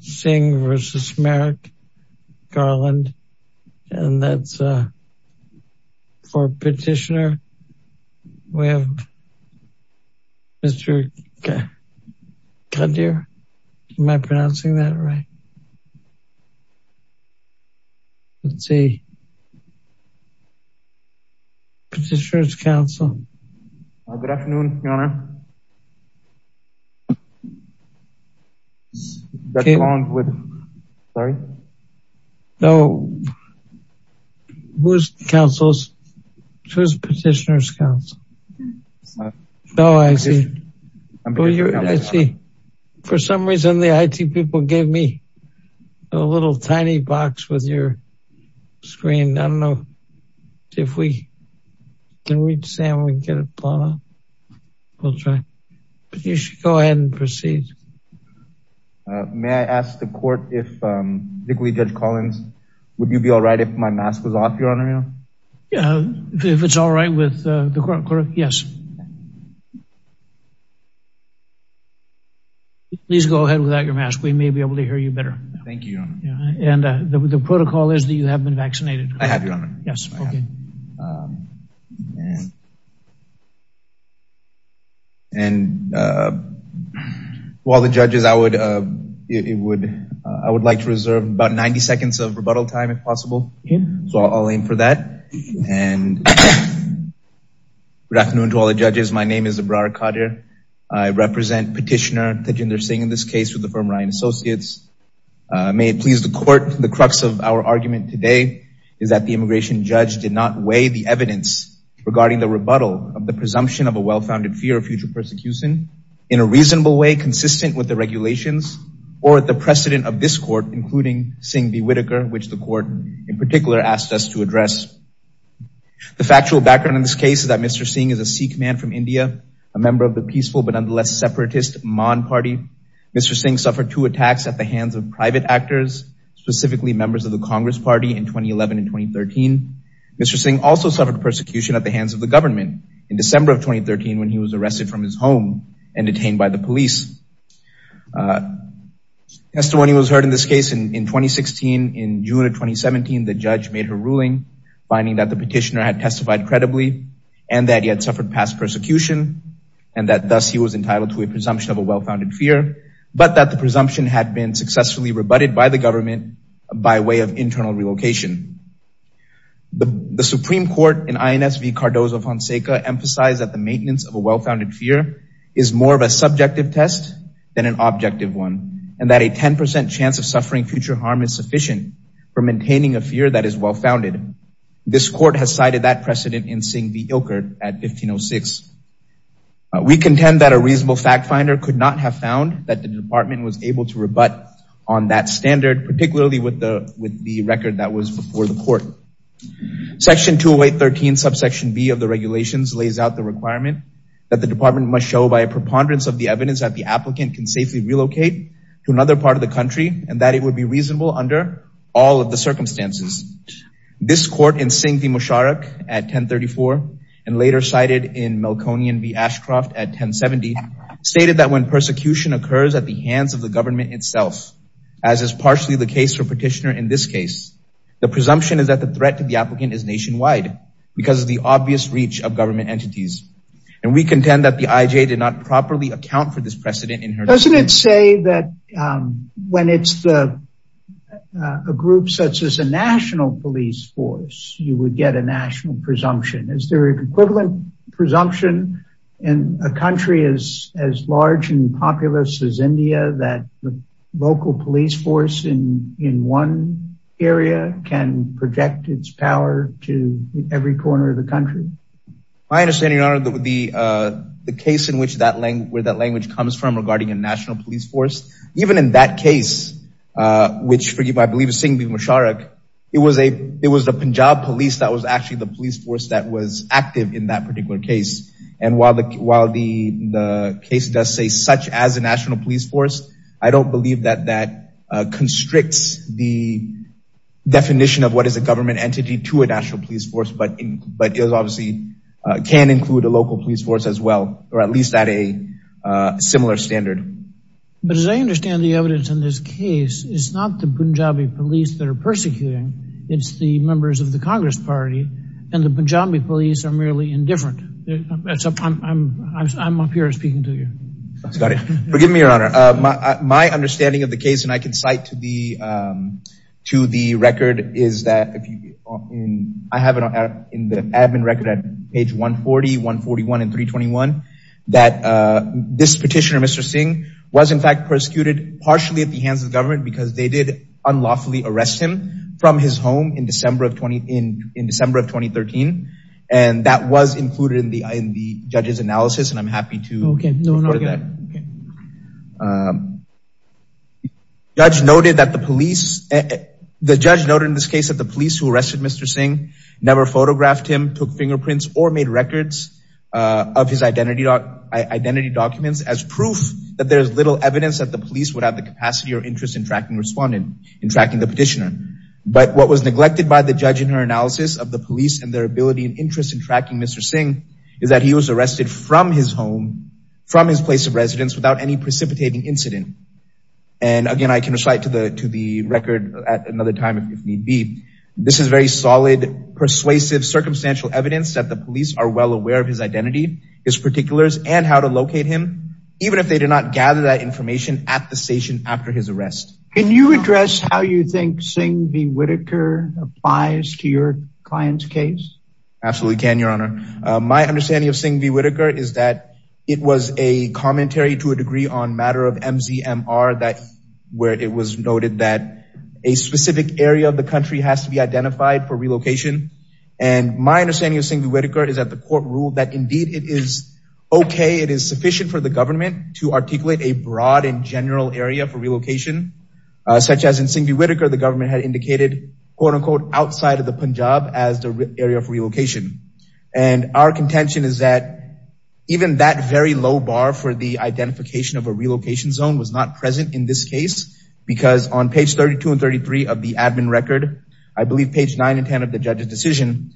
Singh v. Merrick Garland and that's for petitioner. We have Mr. Khadir. Am I pronouncing that right? Let's see. Petitioner's Council. Good afternoon, Your Honour. That's along with, sorry? No, who's Council's, who's Petitioner's Council? No, I see. I see. For some reason the IT people gave me a little tiny box with your screen. I don't know if we can reach Sam and we can get a plot out. We'll try. But you should go ahead and proceed. May I ask the court if, particularly Judge Collins, would you be all right if my mask was off, Your Honour? If it's all right with the court, yes. Please go ahead without your mask. We may be able to hear you better. Thank you, Your Honour. And the protocol is that you have been vaccinated. I have, Your Honour. Yes. And to all the judges, I would like to reserve about 90 seconds of rebuttal time if possible. So I'll aim for that. And good afternoon to all the judges. My name is Ibrahim Khadir. I represent Petitioner Tejinder Singh in this case with the firm Ryan Associates. May it please the court, the crux of our argument today is that the immigration judge did not weigh the evidence regarding the rebuttal of the presumption of a well-founded fear of future persecution in a reasonable way consistent with the regulations or the precedent of this court, including Singh v. Whitaker, which the court in particular asked us to address. The factual background in this case is that Mr. Singh is a Sikh man from India, a member of the hands of private actors, specifically members of the Congress Party in 2011 and 2013. Mr. Singh also suffered persecution at the hands of the government in December of 2013 when he was arrested from his home and detained by the police. Testimony was heard in this case in 2016. In June of 2017, the judge made a ruling finding that the petitioner had testified credibly and that he had suffered past persecution and that thus he was entitled to a presumption of a well-founded fear, but that the presumption had been successfully rebutted by the government by way of internal relocation. The Supreme Court in INSV Cardozo Fonseca emphasized that the maintenance of a well-founded fear is more of a subjective test than an objective one, and that a 10 percent chance of suffering future harm is sufficient for maintaining a fear that is well-founded. This court has cited that precedent in Singh v. Ilkert at 1506. We contend that a reasonable fact finder could not have found that the department was able to rebut on that standard, particularly with the record that was before the court. Section 208.13 subsection b of the regulations lays out the requirement that the department must show by a preponderance of the evidence that the applicant can safely relocate to another part of the country and that it would be reasonable under all of the circumstances. This court in Singh v. Musharraf at 1034 and later cited in Melkonian v. Ashcroft at 1070 stated that when persecution occurs at the hands of the government itself, as is partially the case for petitioner in this case, the presumption is that the threat to the applicant is nationwide because of the obvious reach of government entities, and we contend that the IJ did not properly account for this precedent in her. Doesn't it say that when it's the a group such as a national police force you would get a national presumption? Is there an equivalent presumption in a country as as large and populous as India that the local police force in in one area can project its power to every corner of the country? My understanding, your honor, the the case in which that language where that language comes from regarding a national police force, even in that case, which forgive I believe is Singh v. Musharraf, it was a it was the Punjab police that was actually the police force that was active in that particular case, and while the case does say such as a national police force, I don't believe that that constricts the definition of what is a government entity to a national police force, but it obviously can include a local police force as well, or at least at a similar standard. But as I understand the evidence in this case, it's not the Punjabi police that are persecuting, it's the members of the Congress party, and the Punjabi police are merely indifferent. I'm up here speaking to you. Forgive me, your honor. My understanding of the case, and I can cite to the record, is that I have in the admin record at page 140, 141, and 321, that this petitioner, Mr. Singh, was in fact persecuted partially at the hands of the government because they did unlawfully arrest him from his home in December of 2013, and that was included in the judge's analysis, and I'm happy to report that. The judge noted in this case that the police who arrested Mr. Singh never photographed him, took fingerprints, or made records of his identity documents as proof that there's little evidence that the police would have the capacity or interest in tracking respondent, in tracking the petitioner. But what was neglected by the judge in her analysis of the police and their ability and interest in tracking Mr. Singh is that he was arrested from his home, from his place of residence, without any precipitating incident. And again, I can recite to the record at another time if need be, this is very solid, persuasive, circumstantial evidence that the police are well aware of his identity, his particulars, and how to locate him, even if they did not gather that information at the station after his arrest. Can you address how you think Singh v. Whitaker applies to your client's case? Absolutely can, your honor. My understanding of Singh v. Whitaker is that it was a commentary to a degree on matter of MZMR that where it was noted that a specific area of the country has to be identified for relocation, and my understanding of Singh v. Whitaker is that court ruled that indeed it is okay, it is sufficient for the government to articulate a broad and general area for relocation, such as in Singh v. Whitaker, the government had indicated, quote unquote, outside of the Punjab as the area for relocation. And our contention is that even that very low bar for the identification of a relocation zone was not present in this case, because on page 32 and 33 of the admin record, I believe page 9 and 10 of the judge's decision,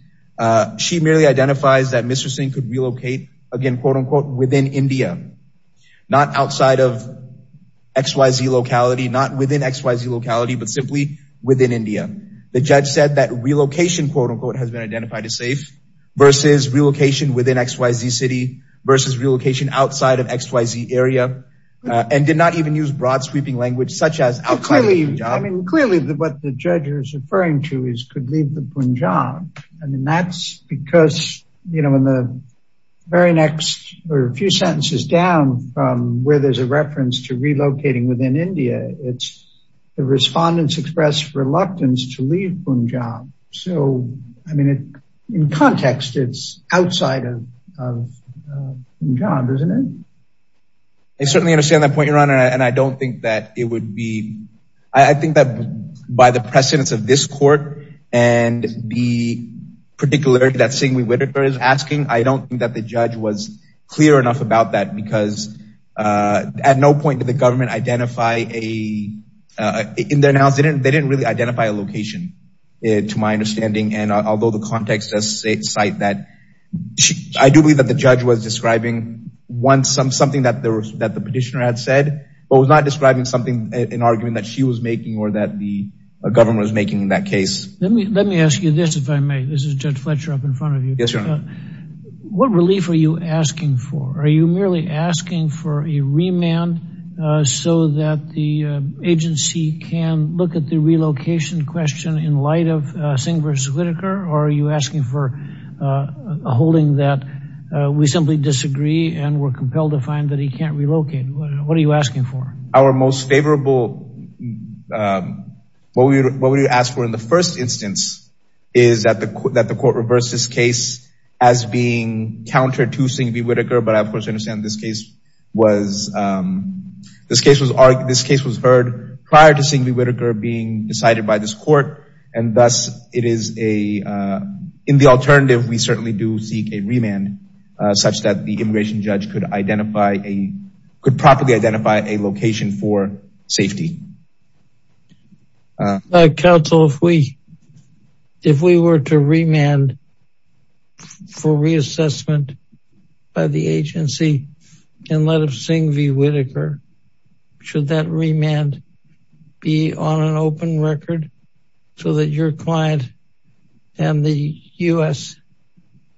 she merely identifies that Mr. Singh could relocate again, quote unquote, within India, not outside of XYZ locality, not within XYZ locality, but simply within India. The judge said that relocation, quote unquote, has been identified as safe versus relocation within XYZ city versus relocation outside of XYZ area, and did not even use broad sweeping language such as Clearly, what the judge is referring to is could leave the Punjab. And that's because, you know, in the very next few sentences down from where there's a reference to relocating within India, it's the respondents expressed reluctance to leave Punjab. So, I mean, in context, it's outside of Punjab, isn't it? I certainly understand that point, and I don't think that it would be, I think that by the precedence of this court, and the particularity that Singh V. Whitaker is asking, I don't think that the judge was clear enough about that, because at no point did the government identify a, in their analysis, they didn't really identify a location, to my understanding. And although the context does was not describing something, an argument that she was making, or that the government was making in that case. Let me let me ask you this, if I may, this is Judge Fletcher up in front of you. What relief are you asking for? Are you merely asking for a remand, so that the agency can look at the relocation question in light of Singh V. Whitaker? Or are you asking for holding that we simply disagree, and we're compelled to find that he can't relocate? What are you asking for? Our most favorable, what we asked for in the first instance, is that the court reversed this case as being counter to Singh V. Whitaker. But of course, I understand this case was, this case was heard prior to Singh V. Whitaker being decided by this court. And thus, it is a, in the alternative, we certainly do seek a remand, such that the identify a location for safety. Counsel, if we, if we were to remand for reassessment by the agency, in light of Singh V. Whitaker, should that remand be on an open record, so that your client and the US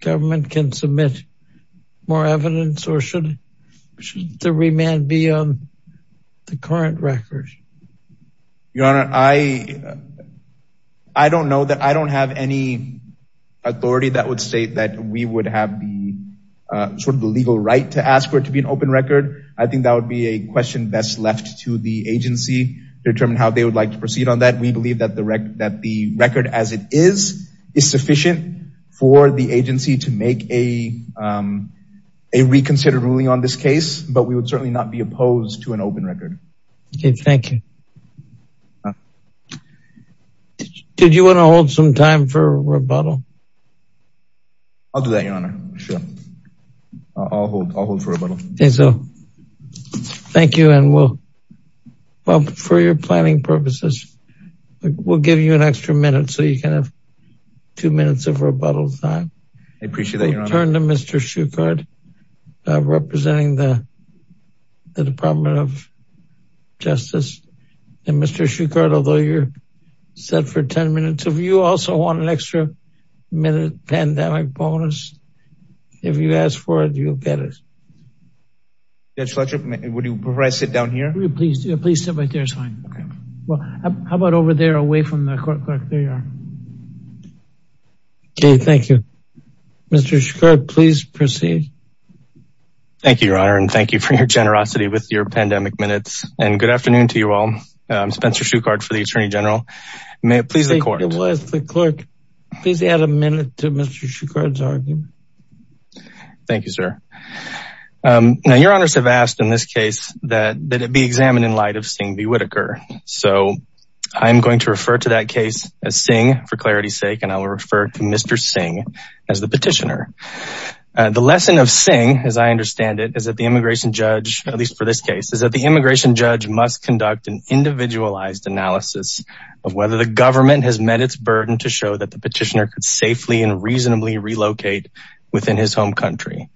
government can submit more evidence? Or should the remand be on the current record? Your Honor, I, I don't know that I don't have any authority that would state that we would have the sort of the legal right to ask for it to be an open record. I think that would be a question best left to the agency to determine how they would like to proceed on that. We believe that that the record as it is, is sufficient for the agency to make a, a reconsidered ruling on this case, but we would certainly not be opposed to an open record. Okay, thank you. Did you want to hold some time for rebuttal? I'll do that, Your Honor. Sure. I'll hold, I'll hold for rebuttal. Okay, so thank you. And we'll, well, for your planning purposes, we'll give you an extra minute so you can have two minutes of rebuttal time. I appreciate that, Your Honor. Turn to Mr. Shukart, representing the, the Department of Justice. And Mr. Shukart, although you're set for 10 minutes, if you also want an extra minute pandemic bonus, if you ask for it, you'll get it. Judge Fletcher, would you prefer I sit down here? Please, please sit right there. It's fine. Okay. Well, how about over there away from the court clerk? There you are. Okay, thank you. Mr. Shukart, please proceed. Thank you, Your Honor. And thank you for your generosity with your pandemic minutes. And good afternoon to you all. I'm Spencer Shukart for the Attorney General. May it please the court. The court, please add a minute to Mr. Shukart's argument. Thank you, sir. Now, Your Honors have asked in this case that it be examined in light of Singh B. Whitaker. So I'm going to refer to that case as Singh for clarity's sake. And I will refer to Mr. Singh as the petitioner. The lesson of Singh, as I understand it, is that the immigration judge, at least for this case, is that the immigration judge must conduct an individualized analysis of whether the government has met its burden to show that the petitioner could safely and reasonably relocate within his home country.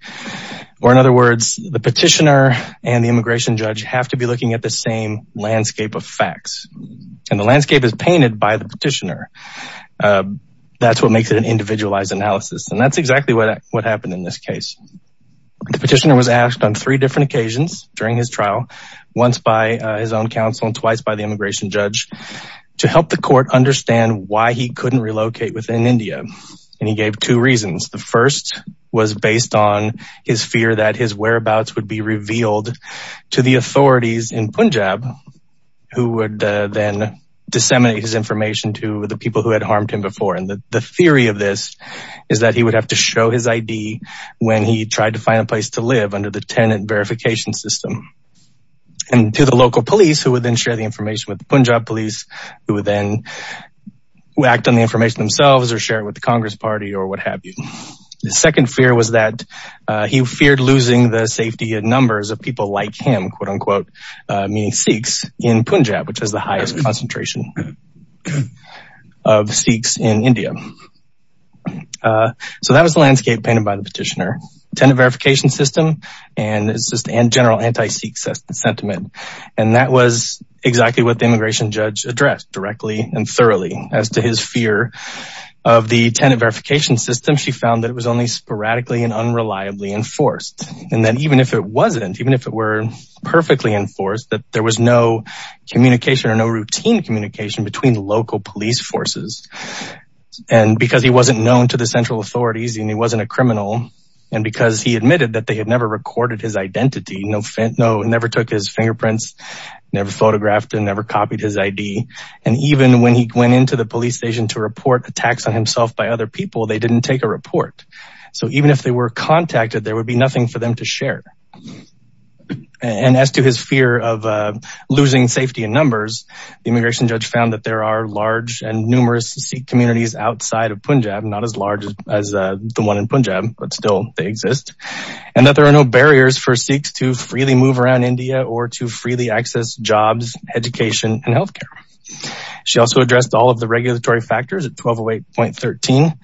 Or in other words, the petitioner and the immigration judge have to be looking at the same landscape of facts. And the landscape is painted by the petitioner. That's what makes it an individualized analysis. And that's exactly what happened in this case. The petitioner was asked on three different occasions during his trial, once by his own counsel and twice by the immigration judge, to help the court understand why he couldn't relocate within India. And he gave two reasons. The first was based on his fear that his whereabouts would be revealed to the authorities in Punjab, who would then disseminate his information to the people who had harmed him before. And the theory of this is that he would have to show his ID when he tried to find a place to live under the tenant verification system. And to the local police, who would then share the information with the Punjab police, who would then act on the information themselves or share it with the Congress party or what have you. The second fear was that he feared losing the safety and numbers of people like him, quote unquote, meaning Sikhs in Punjab, which has the highest concentration of Sikhs in India. So that was the landscape painted by the petitioner. Tenant verification system, and it's just a general anti-Sikh sentiment. And that was exactly what the immigration judge addressed directly and thoroughly. As to his fear of the tenant verification system, she found that it was only sporadically and unreliably enforced. And that even if it wasn't, even if it were perfectly enforced, that there was no communication or no routine communication between local police forces. And because he wasn't known to the central authorities and he wasn't a identity, no never took his fingerprints, never photographed and never copied his ID. And even when he went into the police station to report attacks on himself by other people, they didn't take a report. So even if they were contacted, there would be nothing for them to share. And as to his fear of losing safety and numbers, the immigration judge found that there are large and numerous Sikh communities outside of Punjab, not as large as the one in Punjab, but still they exist. And that there are no barriers for Sikhs to freely move around India or to freely access jobs, education and health care. She also addressed all of the regulatory factors at 1208.13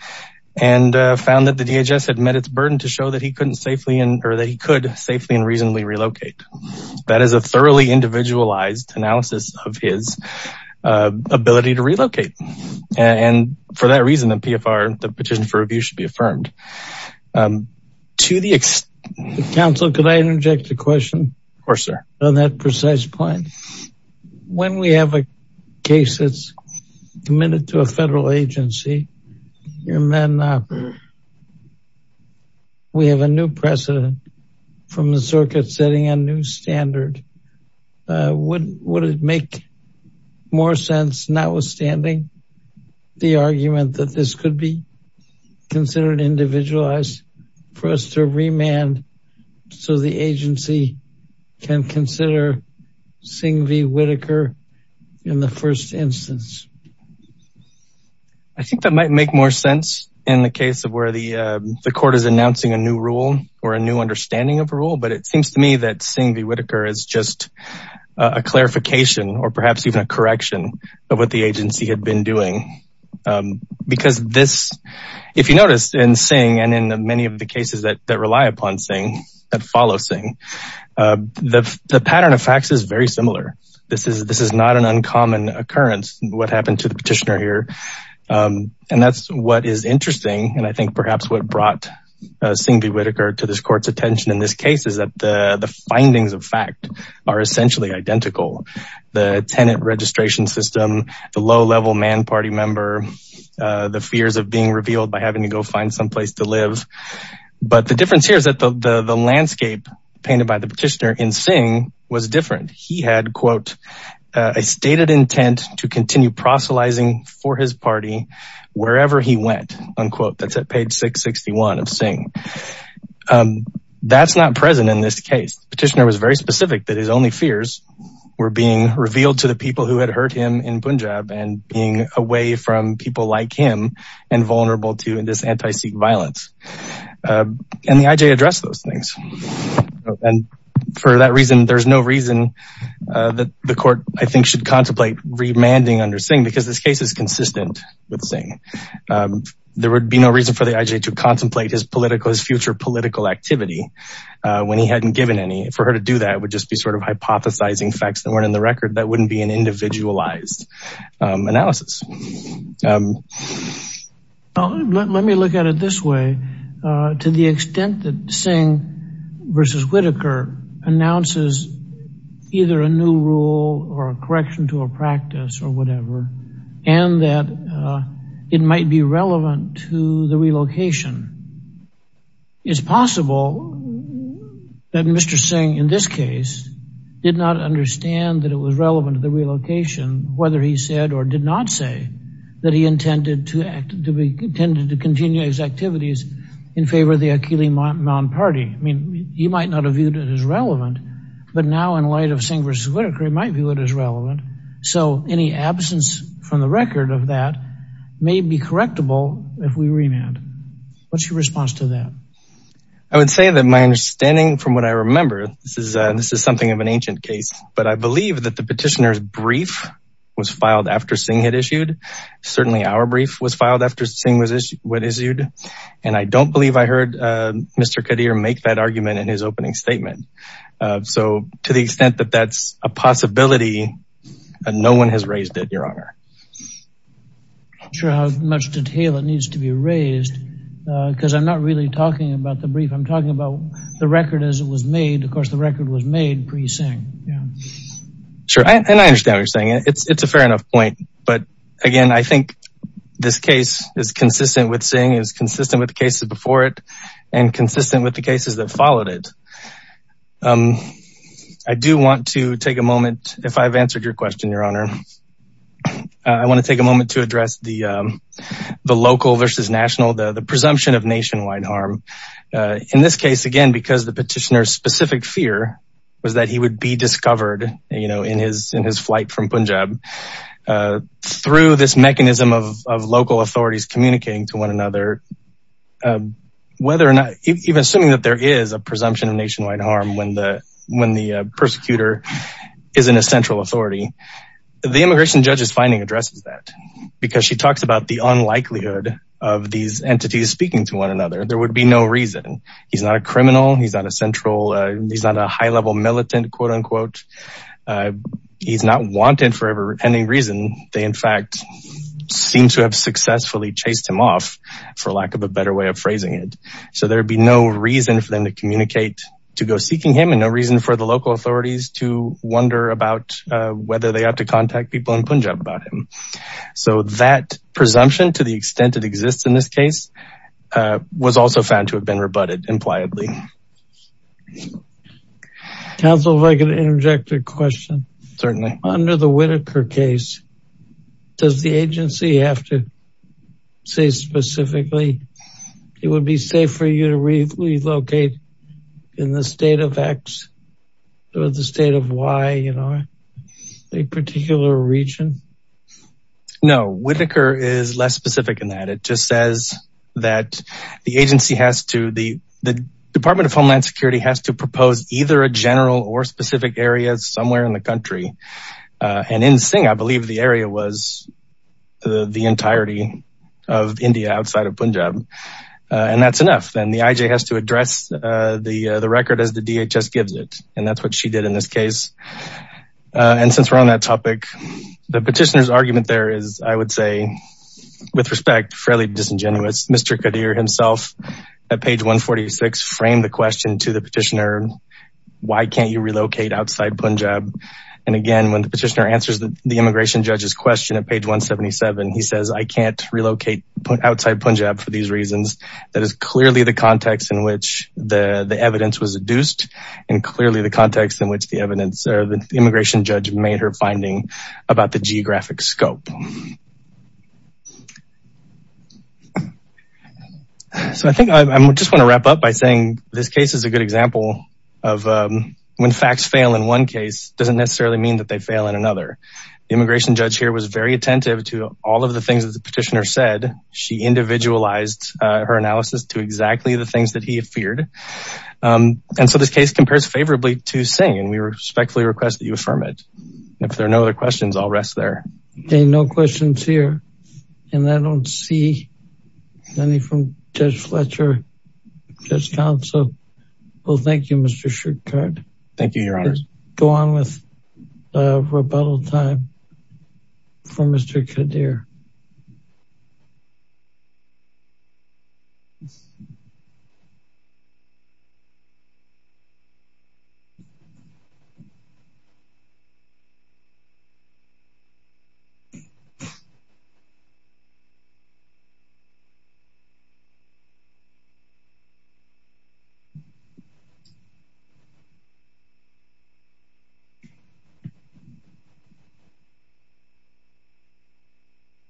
and found that the DHS had met its burden to show that he couldn't safely and or that he could safely and reasonably relocate. That is a thoroughly individualized analysis of his ability to relocate. And for that reason, the PFR, the petition for review should be affirmed. To the extent... Counsel, could I interject a question? Of course, sir. On that precise point, when we have a case that's committed to a federal agency, your men, we have a new precedent from the circuit setting a new standard. Would it make more sense, notwithstanding the argument that this could be considered individualized, for us to remand so the agency can consider Singh v. Whitaker in the first instance? I think that might make more sense in the case of where the court is announcing a new rule or a new understanding of a rule. But it seems to me that Singh v. Whitaker is just a clarification or perhaps even a correction of what the agency had been doing. Because this, if you notice in Singh and in many of the cases that rely upon Singh, that follow Singh, the pattern of facts is very similar. This is not an uncommon occurrence, what happened to the petitioner here. And that's what is interesting. And I think perhaps what brought Singh v. Whitaker to this court's attention in this case is that the findings of fact are essentially identical. The tenant registration system, the low-level man party member, the fears of being revealed by having to go find someplace to live. But the difference here is that the landscape painted by the petitioner in Singh was different. He had, quote, a stated of Singh. That's not present in this case. Petitioner was very specific that his only fears were being revealed to the people who had hurt him in Punjab and being away from people like him and vulnerable to this anti-Sikh violence. And the IJ addressed those things. And for that reason, there's no reason that the court, I think, should contemplate remanding under Singh, because this case is consistent with Singh. There would be no reason for the IJ to contemplate his political, his future political activity when he hadn't given any. For her to do that would just be sort of hypothesizing facts that weren't in the record. That wouldn't be an individualized analysis. Let me look at it this way. To the extent that Singh v. Whitaker announces either a new rule or a correction to a practice or whatever, and that it might be relevant to the relocation, it's possible that Mr. Singh, in this case, did not understand that it was relevant to the relocation, whether he said or did not say that he intended to continue his in light of Singh v. Whitaker, he might view it as relevant. So any absence from the record of that may be correctable if we remand. What's your response to that? I would say that my understanding from what I remember, this is something of an ancient case, but I believe that the petitioner's brief was filed after Singh had issued. Certainly, our brief was filed after Singh had issued. And I don't believe I heard Mr. Qadir make that argument in his opening statement. So to the extent that that's a possibility, no one has raised it, Your Honor. I'm not sure how much detail it needs to be raised, because I'm not really talking about the brief. I'm talking about the record as it was made. Of course, the record was made pre-Singh. Sure. And I understand what you're saying. It's a fair enough point. But again, I think this case is consistent with Singh. It's consistent with the cases that followed it. I do want to take a moment, if I've answered your question, Your Honor. I want to take a moment to address the local versus national, the presumption of nationwide harm. In this case, again, because the petitioner's specific fear was that he would be discovered, you know, in his flight from Punjab, through this mechanism of local authorities communicating to a presumption of nationwide harm when the persecutor is in a central authority. The immigration judge's finding addresses that, because she talks about the unlikelihood of these entities speaking to one another. There would be no reason. He's not a criminal. He's not a central. He's not a high-level militant, quote unquote. He's not wanted for any reason. They, in fact, seem to have successfully chased him off, for lack of a better way of phrasing it. So there'd be no reason for them to communicate to go seeking him and no reason for the local authorities to wonder about whether they ought to contact people in Punjab about him. So that presumption, to the extent it exists in this case, was also found to have been rebutted impliedly. Counsel, if I could interject a question. Certainly. Under the Whitaker case, does the agency have to say specifically it would be safe for you to relocate in the state of X or the state of Y, you know, a particular region? No, Whitaker is less specific in that. It just says that the agency has to, the Department of Homeland Security has to propose either a general or specific areas somewhere in the country. And in Singh, I believe the area was the entirety of India outside of Punjab. And that's enough. And the IJ has to address the record as the DHS gives it. And that's what she did in this case. And since we're on that topic, the petitioner's argument there is, I would say, with respect, fairly disingenuous. Mr. Qadir himself at page 146 framed the question to the petitioner, why can't you relocate outside Punjab? And again, when the petitioner answers the immigration judge's question at page 177, he says, I can't relocate outside Punjab for these reasons. That is clearly the context in which the evidence was adduced and clearly the context in which the immigration judge made her finding about the this case is a good example of when facts fail in one case doesn't necessarily mean that they fail in another. Immigration judge here was very attentive to all of the things that the petitioner said. She individualized her analysis to exactly the things that he feared. And so this case compares favorably to Singh. And we respectfully request that you affirm it. If there are no other questions, I'll rest there. Okay, no questions here. And I don't see any from Judge Fletcher, Judge Council. Well, thank you, Mr. Shukart. Thank you, Your Honor. Go on with rebuttal time for Mr. Qadir.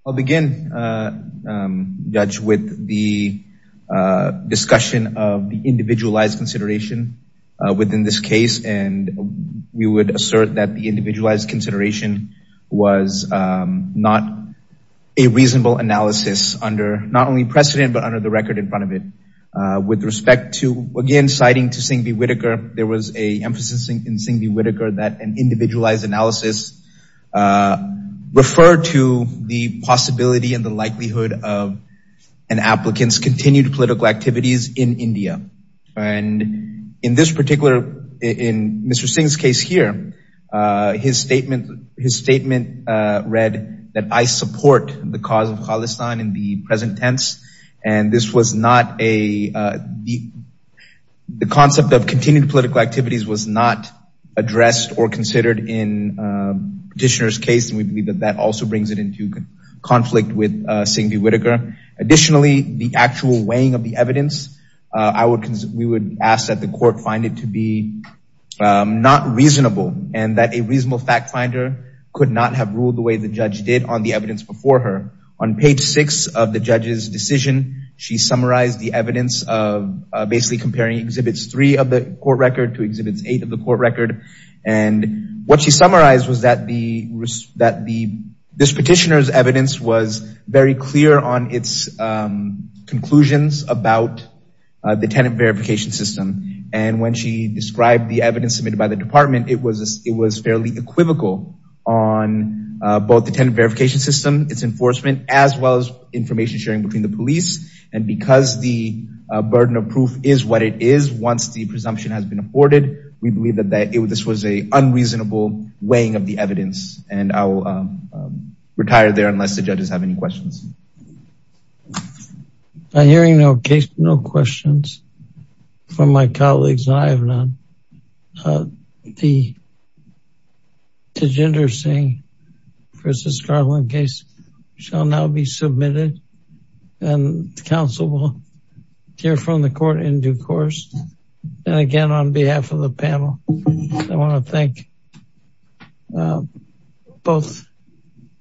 I'll begin, Judge, with the discussion of the individualized consideration within this case. And we would assert that the individualized consideration was not a reasonable analysis under not only precedent, but under the record in front of it. With respect to, again, citing to Singh B. Whitaker, there was an emphasis in Singh B. Whitaker that an individualized analysis referred to the possibility and the likelihood of an applicant's continued political activities in India. And in this particular, in Mr. Singh's case here, his statement read that I support the cause of Khalistan in the present tense. And this was not a, the concept of continued political activities was not addressed or considered in Petitioner's case. And we believe that that also brings it into conflict with Singh B. Whitaker. Additionally, the actual weighing of the evidence, I would, we would ask that the court find it to be not reasonable and that a reasonable fact finder could not have ruled the way the judge did on the evidence before her. On page six of the judge's decision, she summarized the evidence of basically comparing Exhibits 3 of the court record to Exhibits 8 of the court record. And what she summarized was that the, that the, this Petitioner's very clear on its conclusions about the tenant verification system. And when she described the evidence submitted by the department, it was, it was fairly equivocal on both the tenant verification system, its enforcement, as well as information sharing between the police. And because the burden of proof is what it is, once the presumption has been afforded, we believe that this was a unreasonable weighing of the evidence. And I'll stop there unless the judges have any questions. I'm hearing no case, no questions from my colleagues. I have none. The Tejinder Singh v. Garland case shall now be submitted. And the council will hear from the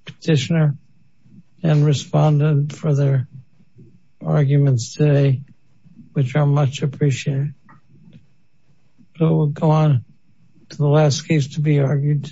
Petitioner and respond to further arguments today, which are much appreciated. So we'll go on to the last case to be argued.